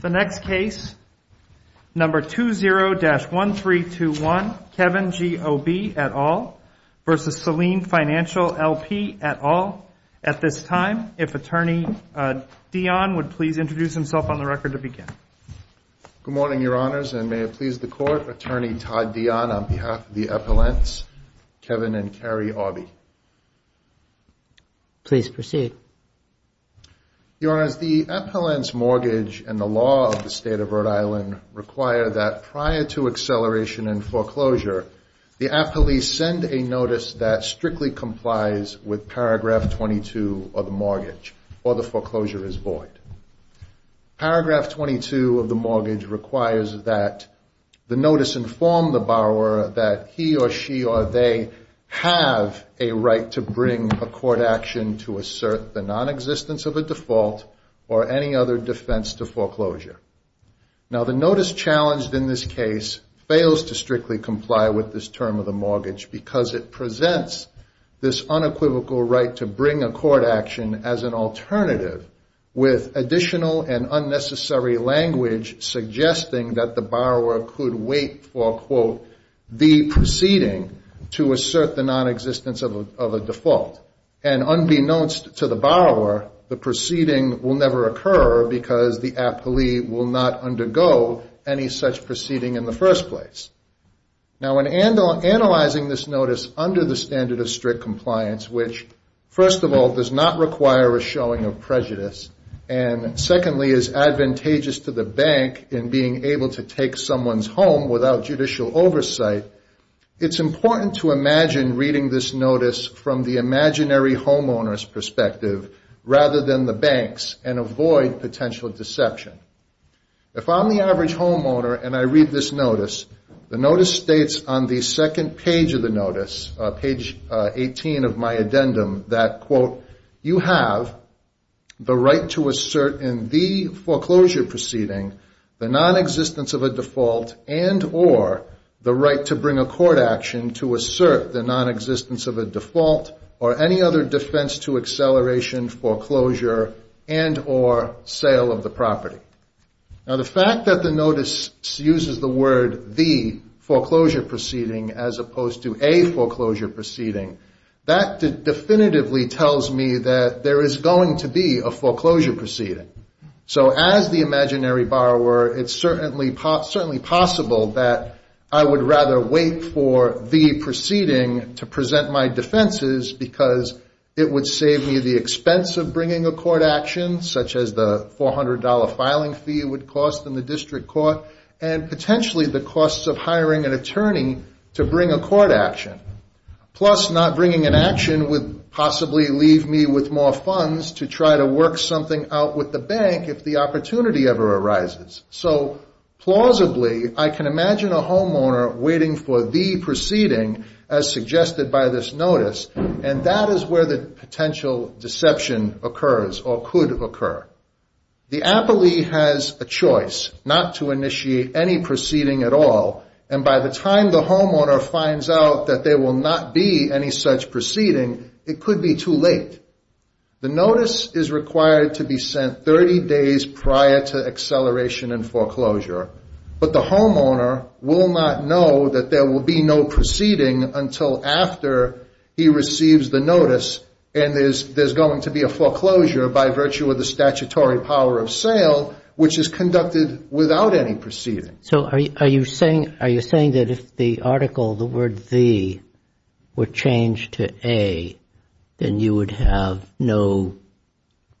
The next case, number 20-1321, Kevin G. Aubee et al. v. Selene Financial LP et al. At this time, if Attorney Dion would please introduce himself on the record to begin. Good morning, Your Honors, and may it please the Court, Attorney Todd Dion on behalf of the Appellants, Kevin and Carrie Aubee. Please proceed. Your Honors, the Appellants' mortgage and the law of the State of Rhode Island require that prior to acceleration and foreclosure, the appellees send a notice that strictly complies with paragraph 22 of the mortgage, or the foreclosure is void. Paragraph 22 of the mortgage requires that the notice inform the borrower that he or she or they have a right to bring a court action to assert the nonexistence of a default or any other defense to foreclosure. Now, the notice challenged in this case fails to strictly comply with this term of the mortgage because it presents this unequivocal right to bring a court action as an alternative with additional and unnecessary language suggesting that the borrower could wait for, quote, the proceeding to assert the nonexistence of a default. And unbeknownst to the borrower, the proceeding will never occur because the appellee will not undergo any such proceeding in the first place. Now, in analyzing this notice under the standard of strict compliance, which, first of all, does not require a showing of prejudice, and secondly is advantageous to the bank in being able to take someone's home without judicial oversight, it's important to imagine reading this notice from the imaginary homeowner's perspective rather than the bank's and avoid potential deception. If I'm the average homeowner and I read this notice, the notice states on the second page of the notice, page 18 of my addendum, that, quote, you have the right to assert in the foreclosure proceeding the nonexistence of a default and or the right to bring a court action to assert the nonexistence of a default or any other defense to acceleration, foreclosure, and or sale of the property. Now, the fact that the notice uses the word the foreclosure proceeding as opposed to a foreclosure proceeding, that definitively tells me that there is going to be a foreclosure proceeding. So as the imaginary borrower, it's certainly possible that I would rather wait for the proceeding to present my defenses because it would save me the expense of bringing a court action, such as the $400 filing fee it would cost in the district court, and potentially the costs of hiring an attorney to bring a court action. Plus, not bringing an action would possibly leave me with more funds to try to work something out with the bank if the opportunity ever arises. So plausibly, I can imagine a homeowner waiting for the proceeding as suggested by this notice, and that is where the potential deception occurs or could occur. The appellee has a choice not to initiate any proceeding at all, and by the time the homeowner finds out that there will not be any such proceeding, it could be too late. The notice is required to be sent 30 days prior to acceleration and foreclosure, but the homeowner will not know that there will be no proceeding until after he receives the notice and there's going to be a foreclosure by virtue of the statutory power of sale, which is conducted without any proceeding. So are you saying that if the article, the word the, were changed to a, then you would have no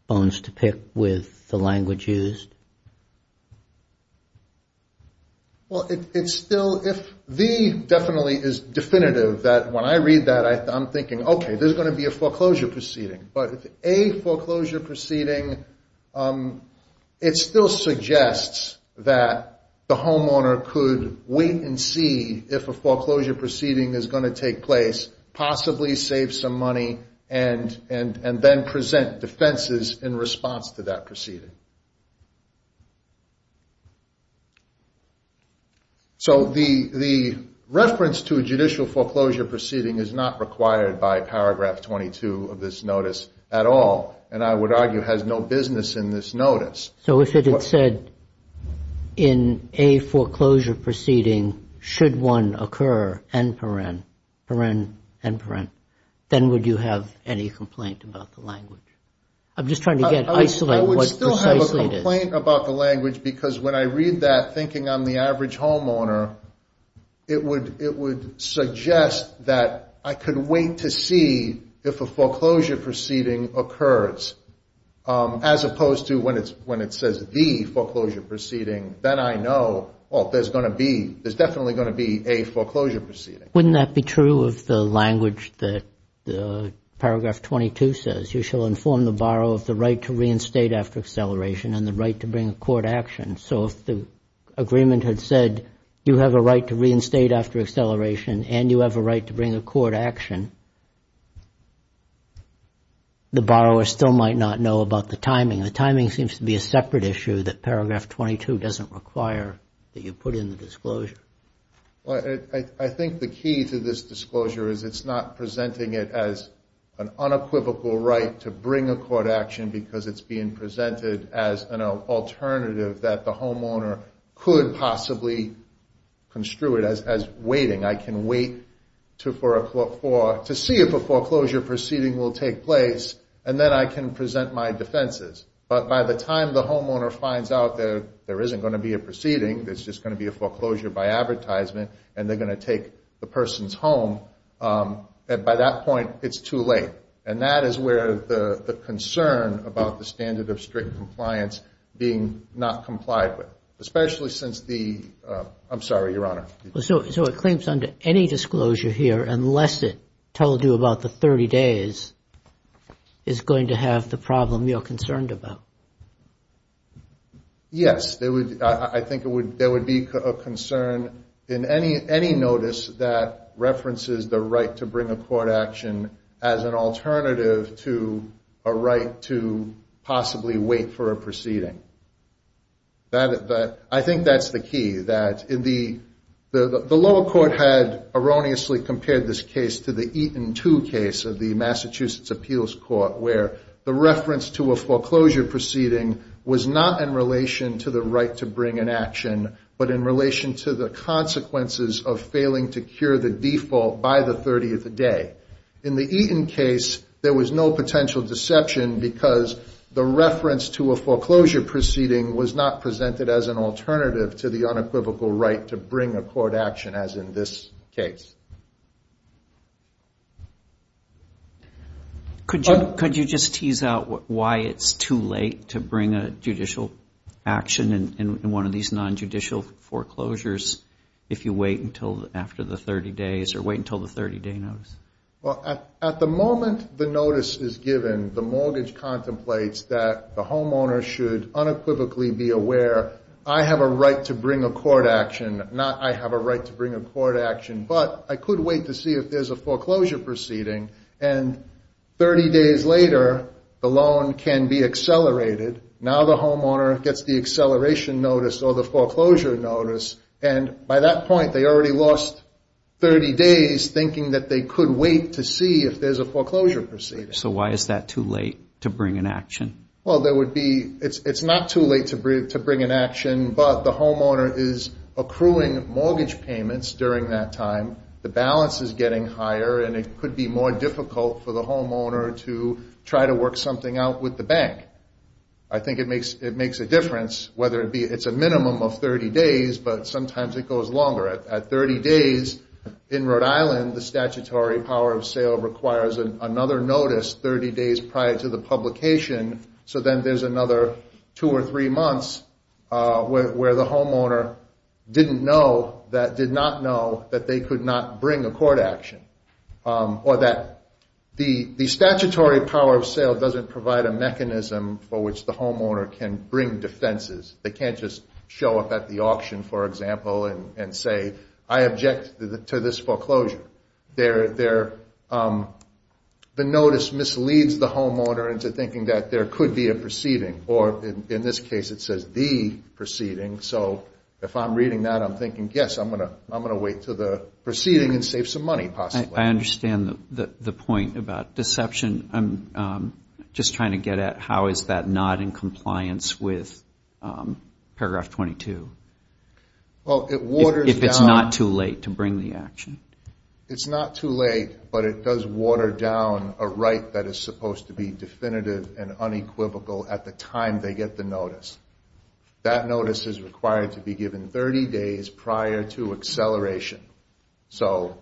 bones to pick with the language used? Well, it's still if the definitely is definitive that when I read that, I'm thinking, okay, there's going to be a foreclosure proceeding. But if a foreclosure proceeding, it still suggests that the homeowner could wait and see if a foreclosure proceeding is going to take place, possibly save some money, and then present defenses in response to that proceeding. So the reference to a judicial foreclosure proceeding is not required by paragraph 22 of this notice at all, and I would argue has no business in this notice. So if it had said in a foreclosure proceeding, should one occur, then would you have any complaint about the language? I'm just trying to get, isolate what precisely it is. I would still have a complaint about the language because when I read that, thinking I'm the average homeowner, it would suggest that I could wait to see if a foreclosure proceeding occurs, as opposed to when it says the foreclosure proceeding, then I know, oh, there's definitely going to be a foreclosure proceeding. Wouldn't that be true of the language that paragraph 22 says? You shall inform the borrower of the right to reinstate after acceleration and the right to bring a court action. So if the agreement had said you have a right to reinstate after acceleration and you have a right to bring a court action, the borrower still might not know about the timing. The timing seems to be a separate issue that paragraph 22 doesn't require that you put in the disclosure. I think the key to this disclosure is it's not presenting it as an unequivocal right to bring a court action because it's being presented as an alternative that the homeowner could possibly construe it as waiting. I can wait to see if a foreclosure proceeding will take place, and then I can present my defenses. But by the time the homeowner finds out there isn't going to be a proceeding, there's just going to be a foreclosure by advertisement, and they're going to take the person's home, by that point it's too late. And that is where the concern about the standard of strict compliance being not complied with, especially since the – I'm sorry, Your Honor. So it claims under any disclosure here unless it told you about the 30 days is going to have the problem you're concerned about? Yes. I think there would be a concern in any notice that references the right to bring a court action as an alternative to a right to possibly wait for a proceeding. I think that's the key. The lower court had erroneously compared this case to the Eaton 2 case of the Massachusetts Appeals Court, where the reference to a foreclosure proceeding was not in relation to the right to bring an action, but in relation to the consequences of failing to cure the default by the 30th day. In the Eaton case, there was no potential deception because the reference to a foreclosure proceeding was not presented as an alternative to the unequivocal right to bring a court action as in this case. Could you just tease out why it's too late to bring a judicial action in one of these nonjudicial foreclosures if you wait until after the 30 days or wait until the 30-day notice? Well, at the moment the notice is given, the mortgage contemplates that the homeowner should unequivocally be aware, I have a right to bring a court action, not I have a right to bring a court action, but I could wait to see if there's a foreclosure proceeding. And 30 days later, the loan can be accelerated. Now the homeowner gets the acceleration notice or the foreclosure notice, and by that point they already lost 30 days thinking that they could wait to see if there's a foreclosure proceeding. So why is that too late to bring an action? Well, it's not too late to bring an action, but the homeowner is accruing mortgage payments during that time, the balance is getting higher, and it could be more difficult for the homeowner to try to work something out with the bank. I think it makes a difference whether it's a minimum of 30 days, but sometimes it goes longer. At 30 days in Rhode Island, the statutory power of sale requires another notice 30 days prior to the publication, so then there's another two or three months where the homeowner didn't know, did not know that they could not bring a court action. Or that the statutory power of sale doesn't provide a mechanism for which the homeowner can bring defenses. They can't just show up at the auction, for example, and say, I object to this foreclosure. The notice misleads the homeowner into thinking that there could be a proceeding, or in this case it says the proceeding, so if I'm reading that I'm thinking, yes, I'm going to wait until the proceeding and save some money possibly. I understand the point about deception. I'm just trying to get at how is that not in compliance with paragraph 22. Well, it waters down. If it's not too late to bring the action. It's not too late, but it does water down a right that is supposed to be definitive and unequivocal at the time they get the notice. That notice is required to be given 30 days prior to acceleration. So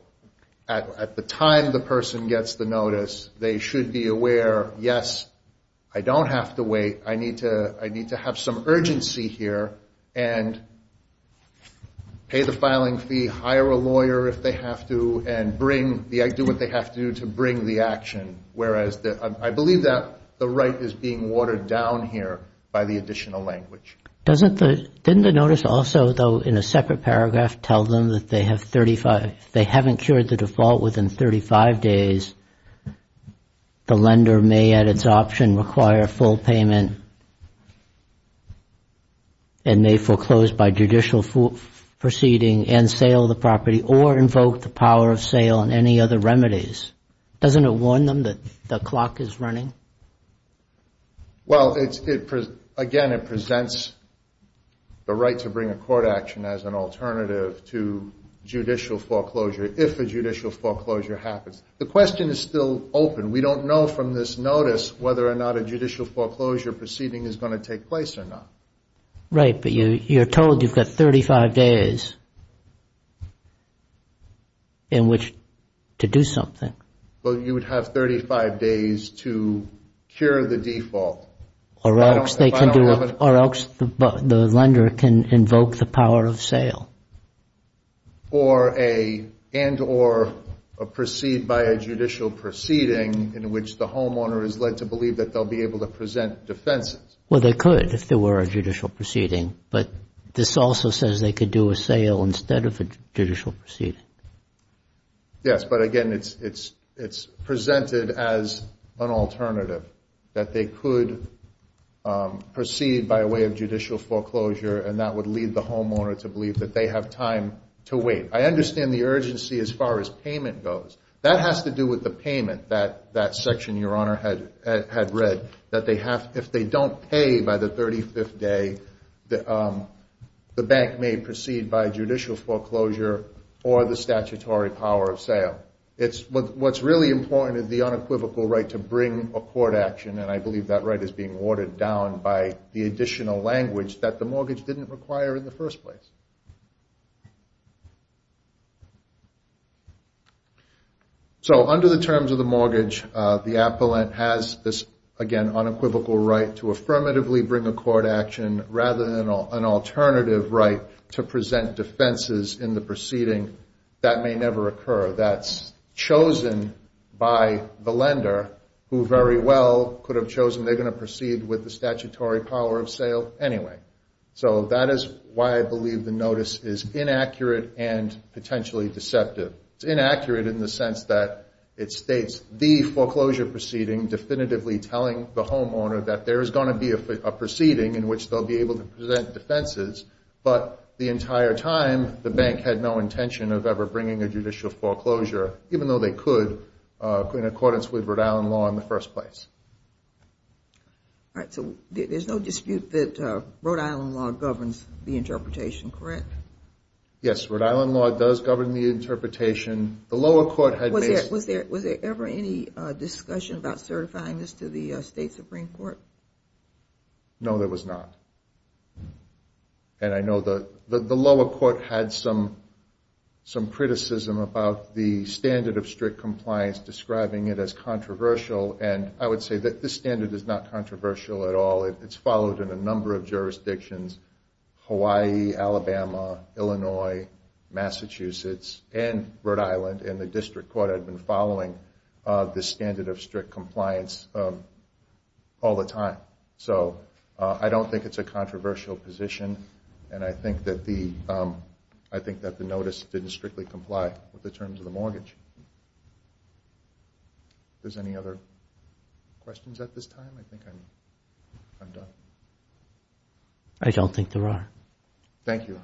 at the time the person gets the notice, they should be aware, yes, I don't have to wait. I need to have some urgency here and pay the filing fee, hire a lawyer if they have to, and do what they have to do to bring the action. I believe that the right is being watered down here by the additional language. Didn't the notice also, though, in a separate paragraph, tell them that if they haven't cured the default within 35 days, the lender may at its option require full payment and may foreclose by judicial proceeding and sale of the property or invoke the power of sale and any other remedies? Doesn't it warn them that the clock is running? Well, again, it presents the right to bring a court action as an alternative to judicial foreclosure if a judicial foreclosure happens. The question is still open. We don't know from this notice whether or not a judicial foreclosure proceeding is going to take place or not. Right, but you're told you've got 35 days in which to do something. Well, you would have 35 days to cure the default. Or else the lender can invoke the power of sale. And or proceed by a judicial proceeding in which the homeowner is led to believe that they'll be able to present defenses. Well, they could if there were a judicial proceeding, but this also says they could do a sale instead of a judicial proceeding. Yes, but again, it's presented as an alternative, that they could proceed by way of judicial foreclosure and that would lead the homeowner to believe that they have time to wait. I understand the urgency as far as payment goes. That has to do with the payment that that section, Your Honor, had read, that if they don't pay by the 35th day, the bank may proceed by judicial foreclosure or the statutory power of sale. What's really important is the unequivocal right to bring a court action, and I believe that right is being watered down by the additional language that the mortgage didn't require in the first place. So under the terms of the mortgage, the appellant has this, again, unequivocal right to affirmatively bring a court action, rather than an alternative right to present defenses in the proceeding that may never occur. That's chosen by the lender, who very well could have chosen they're going to proceed with the statutory power of sale anyway. So that is why I believe the notice is inaccurate and potentially deceptive. It's inaccurate in the sense that it states the foreclosure proceeding, definitively telling the homeowner that there is going to be a proceeding in which they'll be able to present defenses, but the entire time the bank had no intention of ever bringing a judicial foreclosure, even though they could in accordance with Rhode Island law in the first place. All right, so there's no dispute that Rhode Island law governs the interpretation, correct? Yes, Rhode Island law does govern the interpretation. The lower court had made... Was there ever any discussion about certifying this to the State Supreme Court? No, there was not. And I know the lower court had some criticism about the standard of strict compliance, describing it as controversial, and I would say that this standard is not controversial at all. It's followed in a number of jurisdictions. Hawaii, Alabama, Illinois, Massachusetts, and Rhode Island, and the district court had been following this standard of strict compliance all the time. So I don't think it's a controversial position, and I think that the notice didn't strictly comply with the terms of the mortgage. If there's any other questions at this time, I think I'm done. I don't think there are. Thank you.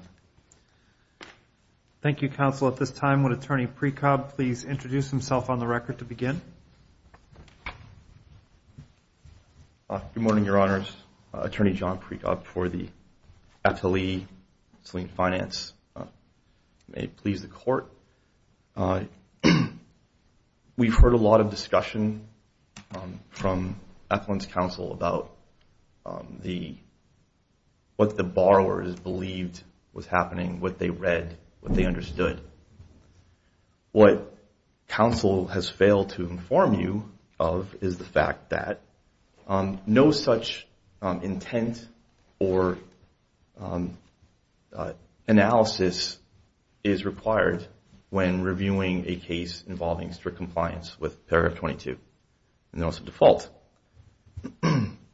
Thank you, counsel. At this time, would Attorney Precob please introduce himself on the record to begin? Good morning, Your Honors. Attorney John Precob for the FLE, Selene Finance. May it please the Court. What counsel has failed to inform you of is the fact that no such intent or analysis is required when reviewing a case involving strict compliance with paragraph 22, notice of default.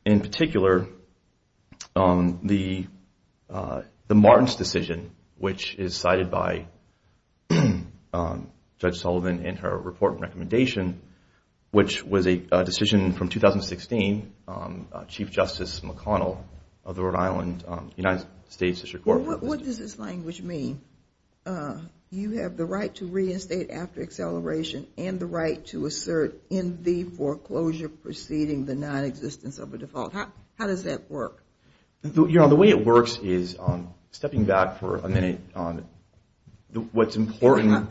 In particular, the Martins decision, which is cited by Judge Sullivan in her report and recommendation, which was a decision from 2016, Chief Justice McConnell of the Rhode Island United States District Court. What does this language mean? You have the right to reinstate after acceleration and the right to assert in the foreclosure proceeding the nonexistence of a default. How does that work? Your Honor, the way it works is, stepping back for a minute on what's important.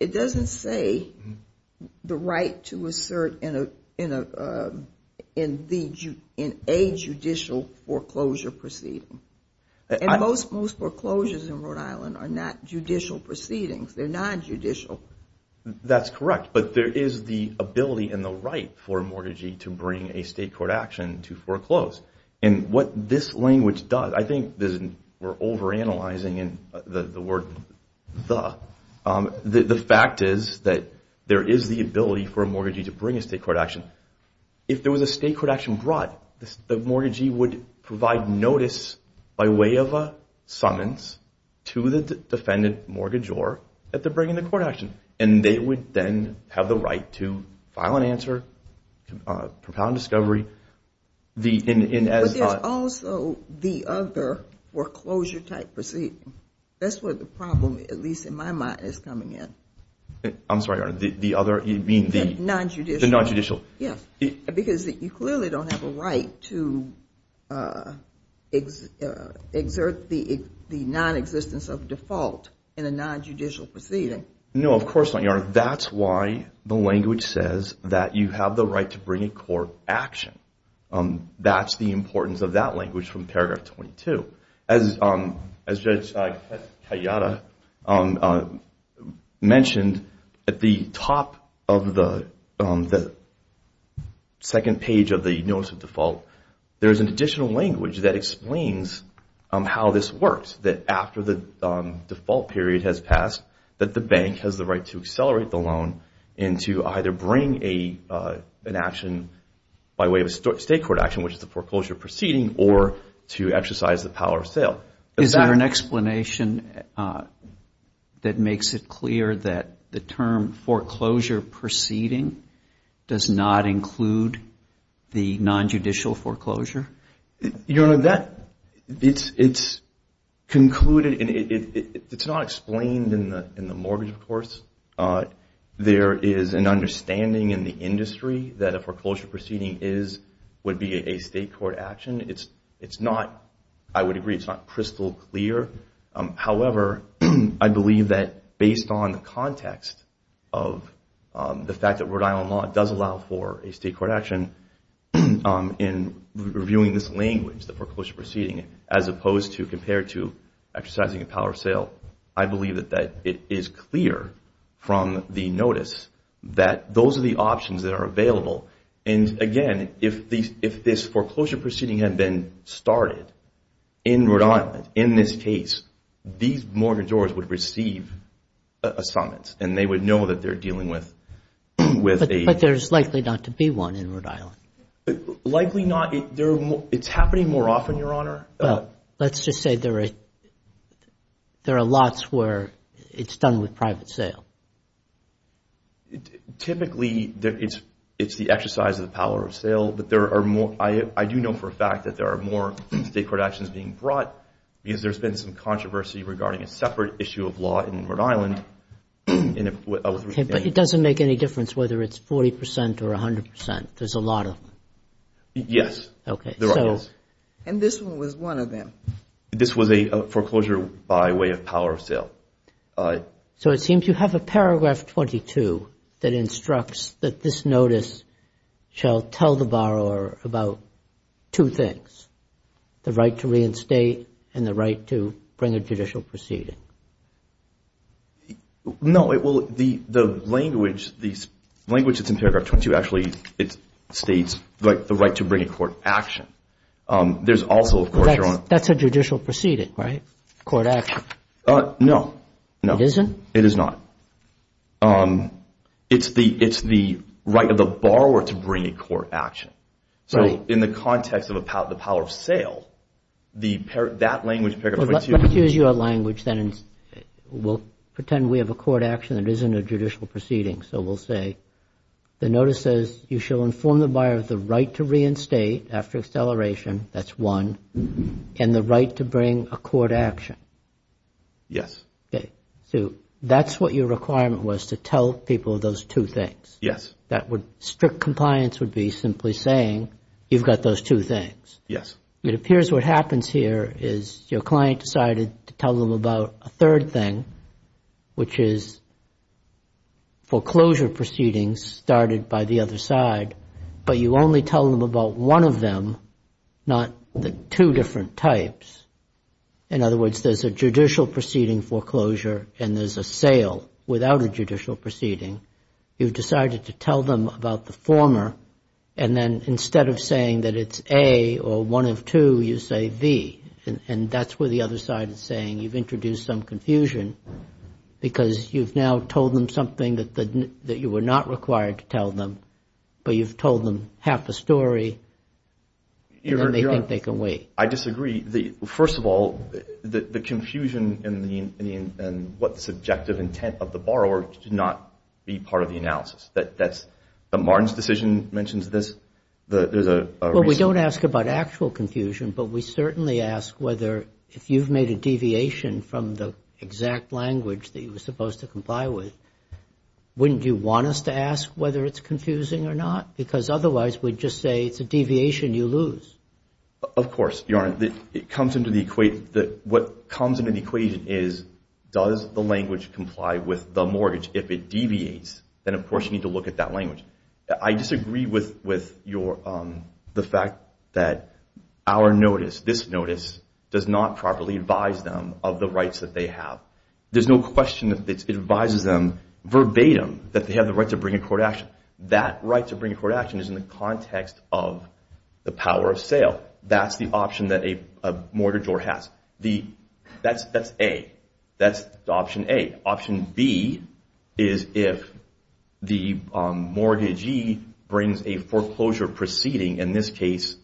It doesn't say the right to assert in a judicial foreclosure proceeding. Most foreclosures in Rhode Island are not judicial proceedings. They're not judicial. That's correct, but there is the ability and the right for a mortgagee to bring a state court action to foreclose. And what this language does, I think we're overanalyzing the word the. The fact is that there is the ability for a mortgagee to bring a state court action. If there was a state court action brought, the mortgagee would provide notice by way of a summons to the defendant, mortgagee, or that they're bringing the court action. And they would then have the right to file an answer, propound discovery. But there's also the other foreclosure-type proceeding. That's where the problem, at least in my mind, is coming in. I'm sorry, Your Honor, the other, you mean the nonjudicial? The nonjudicial. Yes, because you clearly don't have a right to exert the nonexistence of default in a nonjudicial proceeding. No, of course not, Your Honor. That's why the language says that you have the right to bring a court action. That's the importance of that language from paragraph 22. As Judge Kayada mentioned, at the top of the second page of the notice of default, there's an additional language that explains how this works, that after the default period has passed, that the bank has the right to accelerate the loan and to either bring an action by way of a state court action, which is the foreclosure proceeding, or to exercise the power of sale. Is there an explanation that makes it clear that the term foreclosure proceeding does not include the nonjudicial foreclosure? Your Honor, it's concluded, it's not explained in the mortgage, of course. There is an understanding in the industry that a foreclosure proceeding would be a state court action. It's not, I would agree, it's not crystal clear. However, I believe that based on the context of the fact that Rhode Island law does allow for a state court action in reviewing this language, the foreclosure proceeding, as opposed to compared to exercising a power of sale, I believe that it is clear from the notice that those are the options that are available. And, again, if this foreclosure proceeding had been started in Rhode Island, in this case, these mortgages would receive a summons, and they would know that they're dealing with a... But there's likely not to be one in Rhode Island. Likely not. It's happening more often, Your Honor. Well, let's just say there are lots where it's done with private sale. Typically, it's the exercise of the power of sale, but there are more... I do know for a fact that there are more state court actions being brought because there's been some controversy regarding a separate issue of law in Rhode Island. Okay, but it doesn't make any difference whether it's 40% or 100%. There's a lot of them. Yes. Okay, so... And this one was one of them. This was a foreclosure by way of power of sale. So it seems you have a paragraph 22 that instructs that this notice shall tell the borrower about two things, the right to reinstate and the right to bring a judicial proceeding. No. Well, the language that's in paragraph 22 actually states the right to bring a court action. There's also, of course, Your Honor... That's a judicial proceeding, right? Court action. No. No. It isn't? It is not. It's the right of the borrower to bring a court action. So in the context of the power of sale, that language... Let's use your language then and we'll pretend we have a court action that isn't a judicial proceeding. So we'll say the notice says you shall inform the buyer of the right to reinstate after acceleration, that's one, and the right to bring a court action. Yes. So that's what your requirement was, to tell people those two things. Yes. Strict compliance would be simply saying you've got those two things. Yes. It appears what happens here is your client decided to tell them about a third thing, which is foreclosure proceedings started by the other side, but you only tell them about one of them, not the two different types. In other words, there's a judicial proceeding foreclosure and there's a sale without a judicial proceeding. You've decided to tell them about the former, and then instead of saying that it's A or one of two, you say B, and that's where the other side is saying you've introduced some confusion because you've now told them something that you were not required to tell them, but you've told them half the story, and then they think they can wait. I disagree. First of all, the confusion and what the subjective intent of the borrower did not be part of the analysis. Martin's decision mentions this. Well, we don't ask about actual confusion, but we certainly ask whether if you've made a deviation from the exact language that you were supposed to comply with, wouldn't you want us to ask whether it's confusing or not? Because otherwise we'd just say it's a deviation you lose. Of course, Your Honor. What comes into the equation is does the language comply with the mortgage? If it deviates, then of course you need to look at that language. I disagree with the fact that our notice, this notice, does not properly advise them of the rights that they have. There's no question that it advises them verbatim that they have the right to bring a court action. That right to bring a court action is in the context of the power of sale. That's the option that a mortgagor has. That's A. That's option A. Option B is if the mortgagee brings a foreclosure proceeding, in this case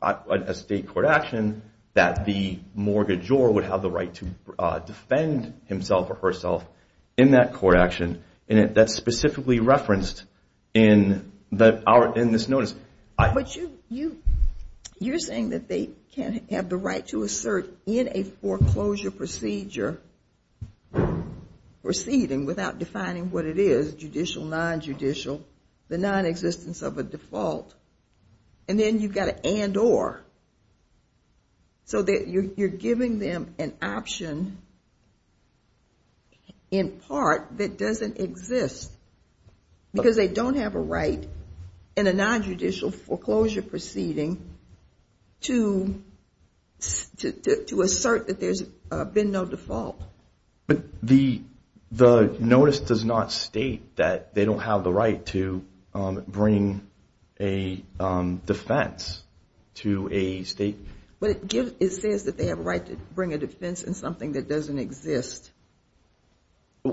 a state court action, that the mortgagor would have the right to defend himself or herself in that court action. That's specifically referenced in this notice. But you're saying that they can have the right to assert in a foreclosure procedure proceeding without defining what it is, judicial, nonjudicial, the nonexistence of a default. And then you've got an and or. So you're giving them an option in part that doesn't exist because they don't have a right in a nonjudicial foreclosure proceeding to assert that there's been no default. But the notice does not state that they don't have the right to bring a defense to a state. But it says that they have a right to bring a defense in something that doesn't exist.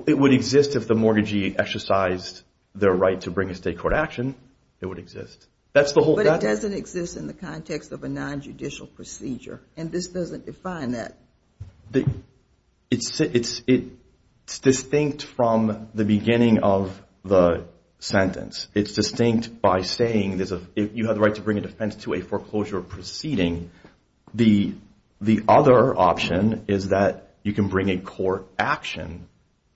It would exist if the mortgagee exercised their right to bring a state court action. It would exist. But it doesn't exist in the context of a nonjudicial procedure, and this doesn't define that. It's distinct from the beginning of the sentence. It's distinct by saying you have the right to bring a defense to a foreclosure proceeding. The other option is that you can bring a court action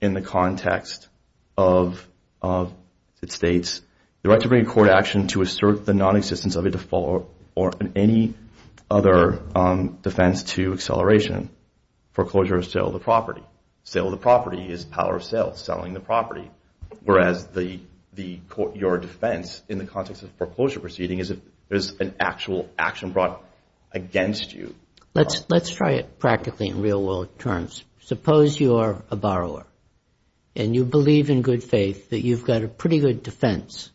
in the context of it states the right to bring a court action to assert the nonexistence of a default or any other defense to acceleration. Foreclosure is sale of the property. Sale of the property is power of sale, selling the property. Whereas your defense in the context of foreclosure proceeding is an actual action brought against you. Let's try it practically in real world terms. Suppose you're a borrower and you believe in good faith that you've got a pretty good defense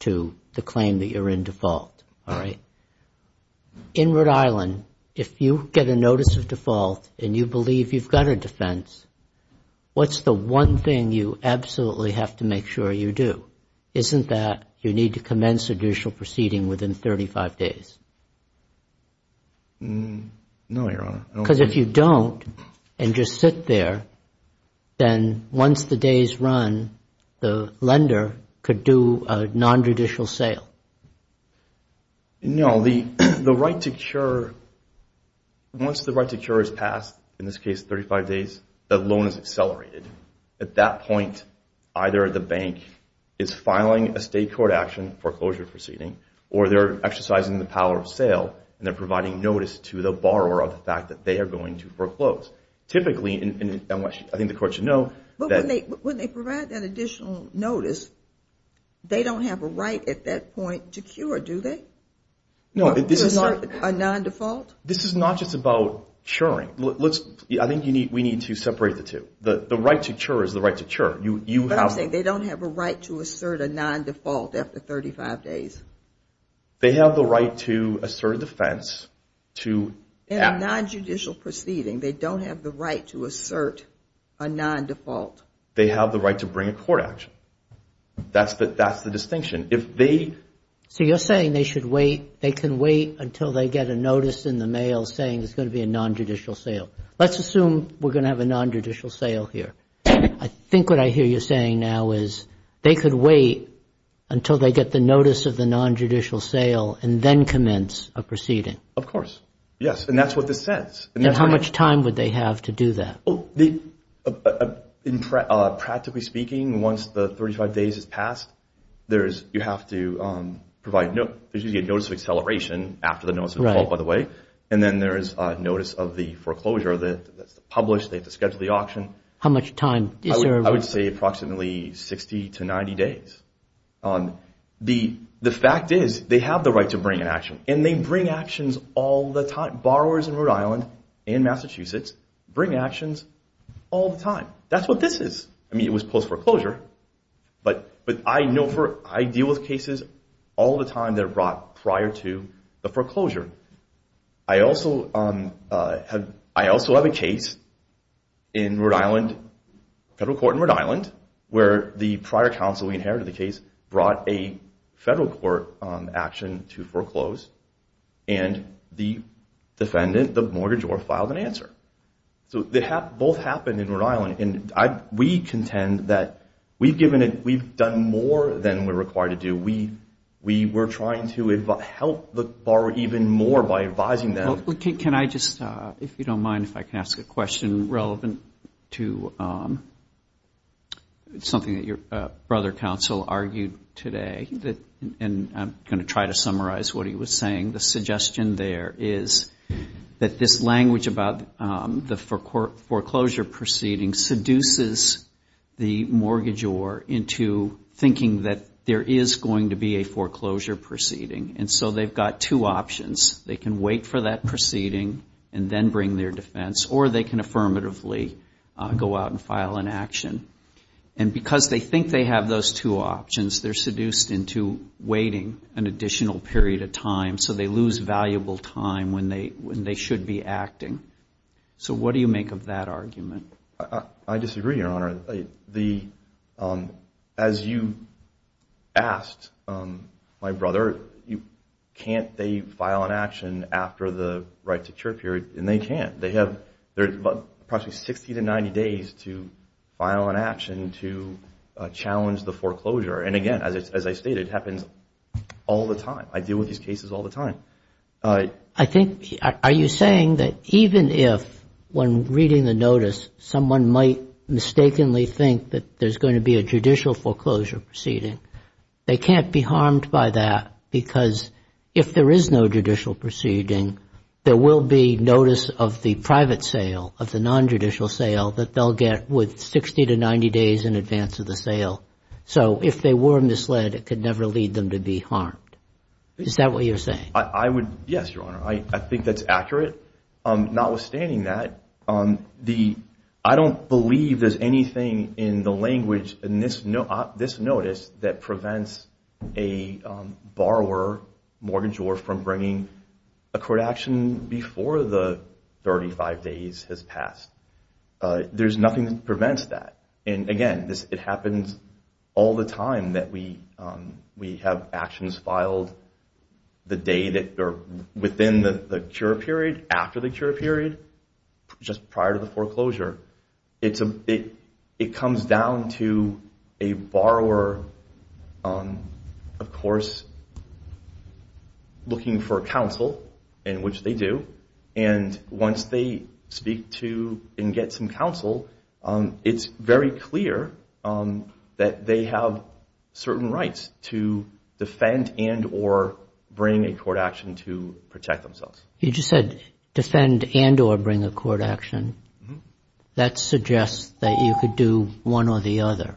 to the claim that you're in default. In Rhode Island, if you get a notice of default and you believe you've got a defense, what's the one thing you absolutely have to make sure you do? Isn't that you need to commence judicial proceeding within 35 days? No, Your Honor. Because if you don't and just sit there, then once the day is run, the lender could do a nonjudicial sale. No. The right to cure, once the right to cure is passed, in this case 35 days, the loan is accelerated. At that point, either the bank is filing a state court action, foreclosure proceeding, or they're exercising the power of sale and they're providing notice to the borrower of the fact that they are going to foreclose. Typically, and I think the court should know. But when they provide that additional notice, they don't have a right at that point to cure, do they? No. A non-default? This is not just about curing. I think we need to separate the two. The right to cure is the right to cure. But I'm saying they don't have a right to assert a non-default after 35 days. They have the right to assert a defense to act. In a nonjudicial proceeding, they don't have the right to assert a non-default. They have the right to bring a court action. That's the distinction. So you're saying they can wait until they get a notice in the mail saying there's going to be a nonjudicial sale. Let's assume we're going to have a nonjudicial sale here. I think what I hear you saying now is they could wait until they get the notice of the nonjudicial sale and then commence a proceeding. Of course. Yes, and that's what this says. And how much time would they have to do that? Practically speaking, once the 35 days has passed, you have to provide a notice of acceleration after the notice of default, by the way, and then there is a notice of the foreclosure that's published. They have to schedule the auction. How much time is there? I would say approximately 60 to 90 days. The fact is they have the right to bring an action, and they bring actions all the time. Borrowers in Rhode Island and Massachusetts bring actions all the time. That's what this is. I mean, it was post-foreclosure, but I deal with cases all the time that are brought prior to the foreclosure. I also have a case in Rhode Island, federal court in Rhode Island, where the prior counsel, we inherited the case, brought a federal court action to foreclose, and the defendant, the mortgagor, filed an answer. So they both happened in Rhode Island, and we contend that we've done more than we're required to do. We were trying to help the borrower even more by advising them. Well, can I just, if you don't mind, if I can ask a question relevant to something that your brother counsel argued today, and I'm going to try to summarize what he was saying. The suggestion there is that this language about the foreclosure proceeding seduces the mortgagor into thinking that there is going to be a foreclosure proceeding, and so they've got two options. They can wait for that proceeding and then bring their defense, or they can affirmatively go out and file an action. And because they think they have those two options, they're seduced into waiting an additional period of time, so they lose valuable time when they should be acting. So what do you make of that argument? I disagree, Your Honor. As you asked my brother, can't they file an action after the right to cure period? And they can't. They have approximately 60 to 90 days to file an action to challenge the foreclosure. And, again, as I stated, it happens all the time. I deal with these cases all the time. Are you saying that even if, when reading the notice, someone might mistakenly think that there's going to be a judicial foreclosure proceeding, they can't be harmed by that because if there is no judicial proceeding, there will be notice of the private sale, of the nonjudicial sale, that they'll get with 60 to 90 days in advance of the sale. So if they were misled, it could never lead them to be harmed. Is that what you're saying? Yes, Your Honor. I think that's accurate. Notwithstanding that, I don't believe there's anything in the language in this notice that prevents a borrower, mortgage borrower, from bringing a court action before the 35 days has passed. There's nothing that prevents that. And, again, it happens all the time that we have actions filed within the cure period, after the cure period, just prior to the foreclosure. It comes down to a borrower, of course, looking for counsel, in which they do. And once they speak to and get some counsel, it's very clear that they have certain rights to defend and or bring a court action to protect themselves. You just said defend and or bring a court action. That suggests that you could do one or the other.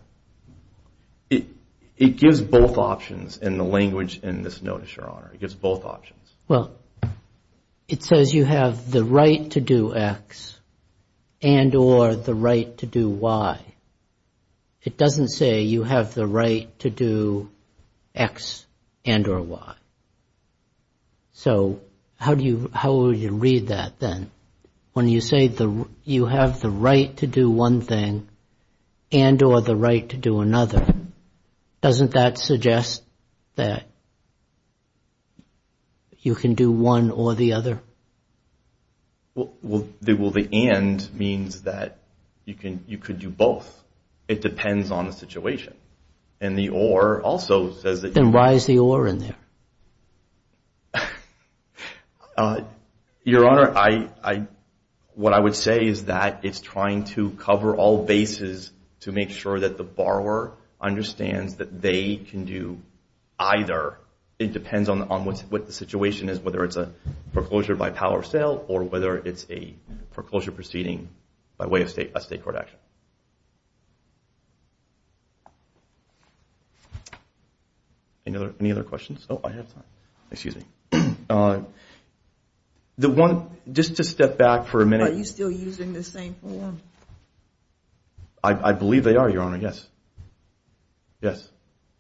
It gives both options in the language in this notice, Your Honor. It gives both options. Well, it says you have the right to do X and or the right to do Y. It doesn't say you have the right to do X and or Y. So how would you read that then? When you say you have the right to do one thing and or the right to do another, doesn't that suggest that you can do one or the other? Well, the and means that you could do both. It depends on the situation. And the or also says that you can. Then why is the or in there? Your Honor, what I would say is that it's trying to cover all bases to make sure that the borrower understands that they can do either. It depends on what the situation is, whether it's a foreclosure by power of sale or whether it's a foreclosure proceeding by way of a state court action. Any other questions? Oh, I have time. Excuse me. Just to step back for a minute. Are you still using the same form? I believe they are, Your Honor, yes. Yes,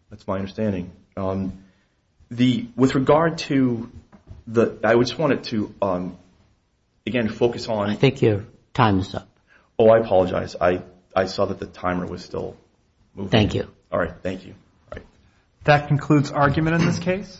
that's my understanding. With regard to the – I just wanted to, again, focus on. I think your time is up. Oh, I apologize. I saw that the timer was still moving. Thank you. All right. Thank you. That concludes argument in this case.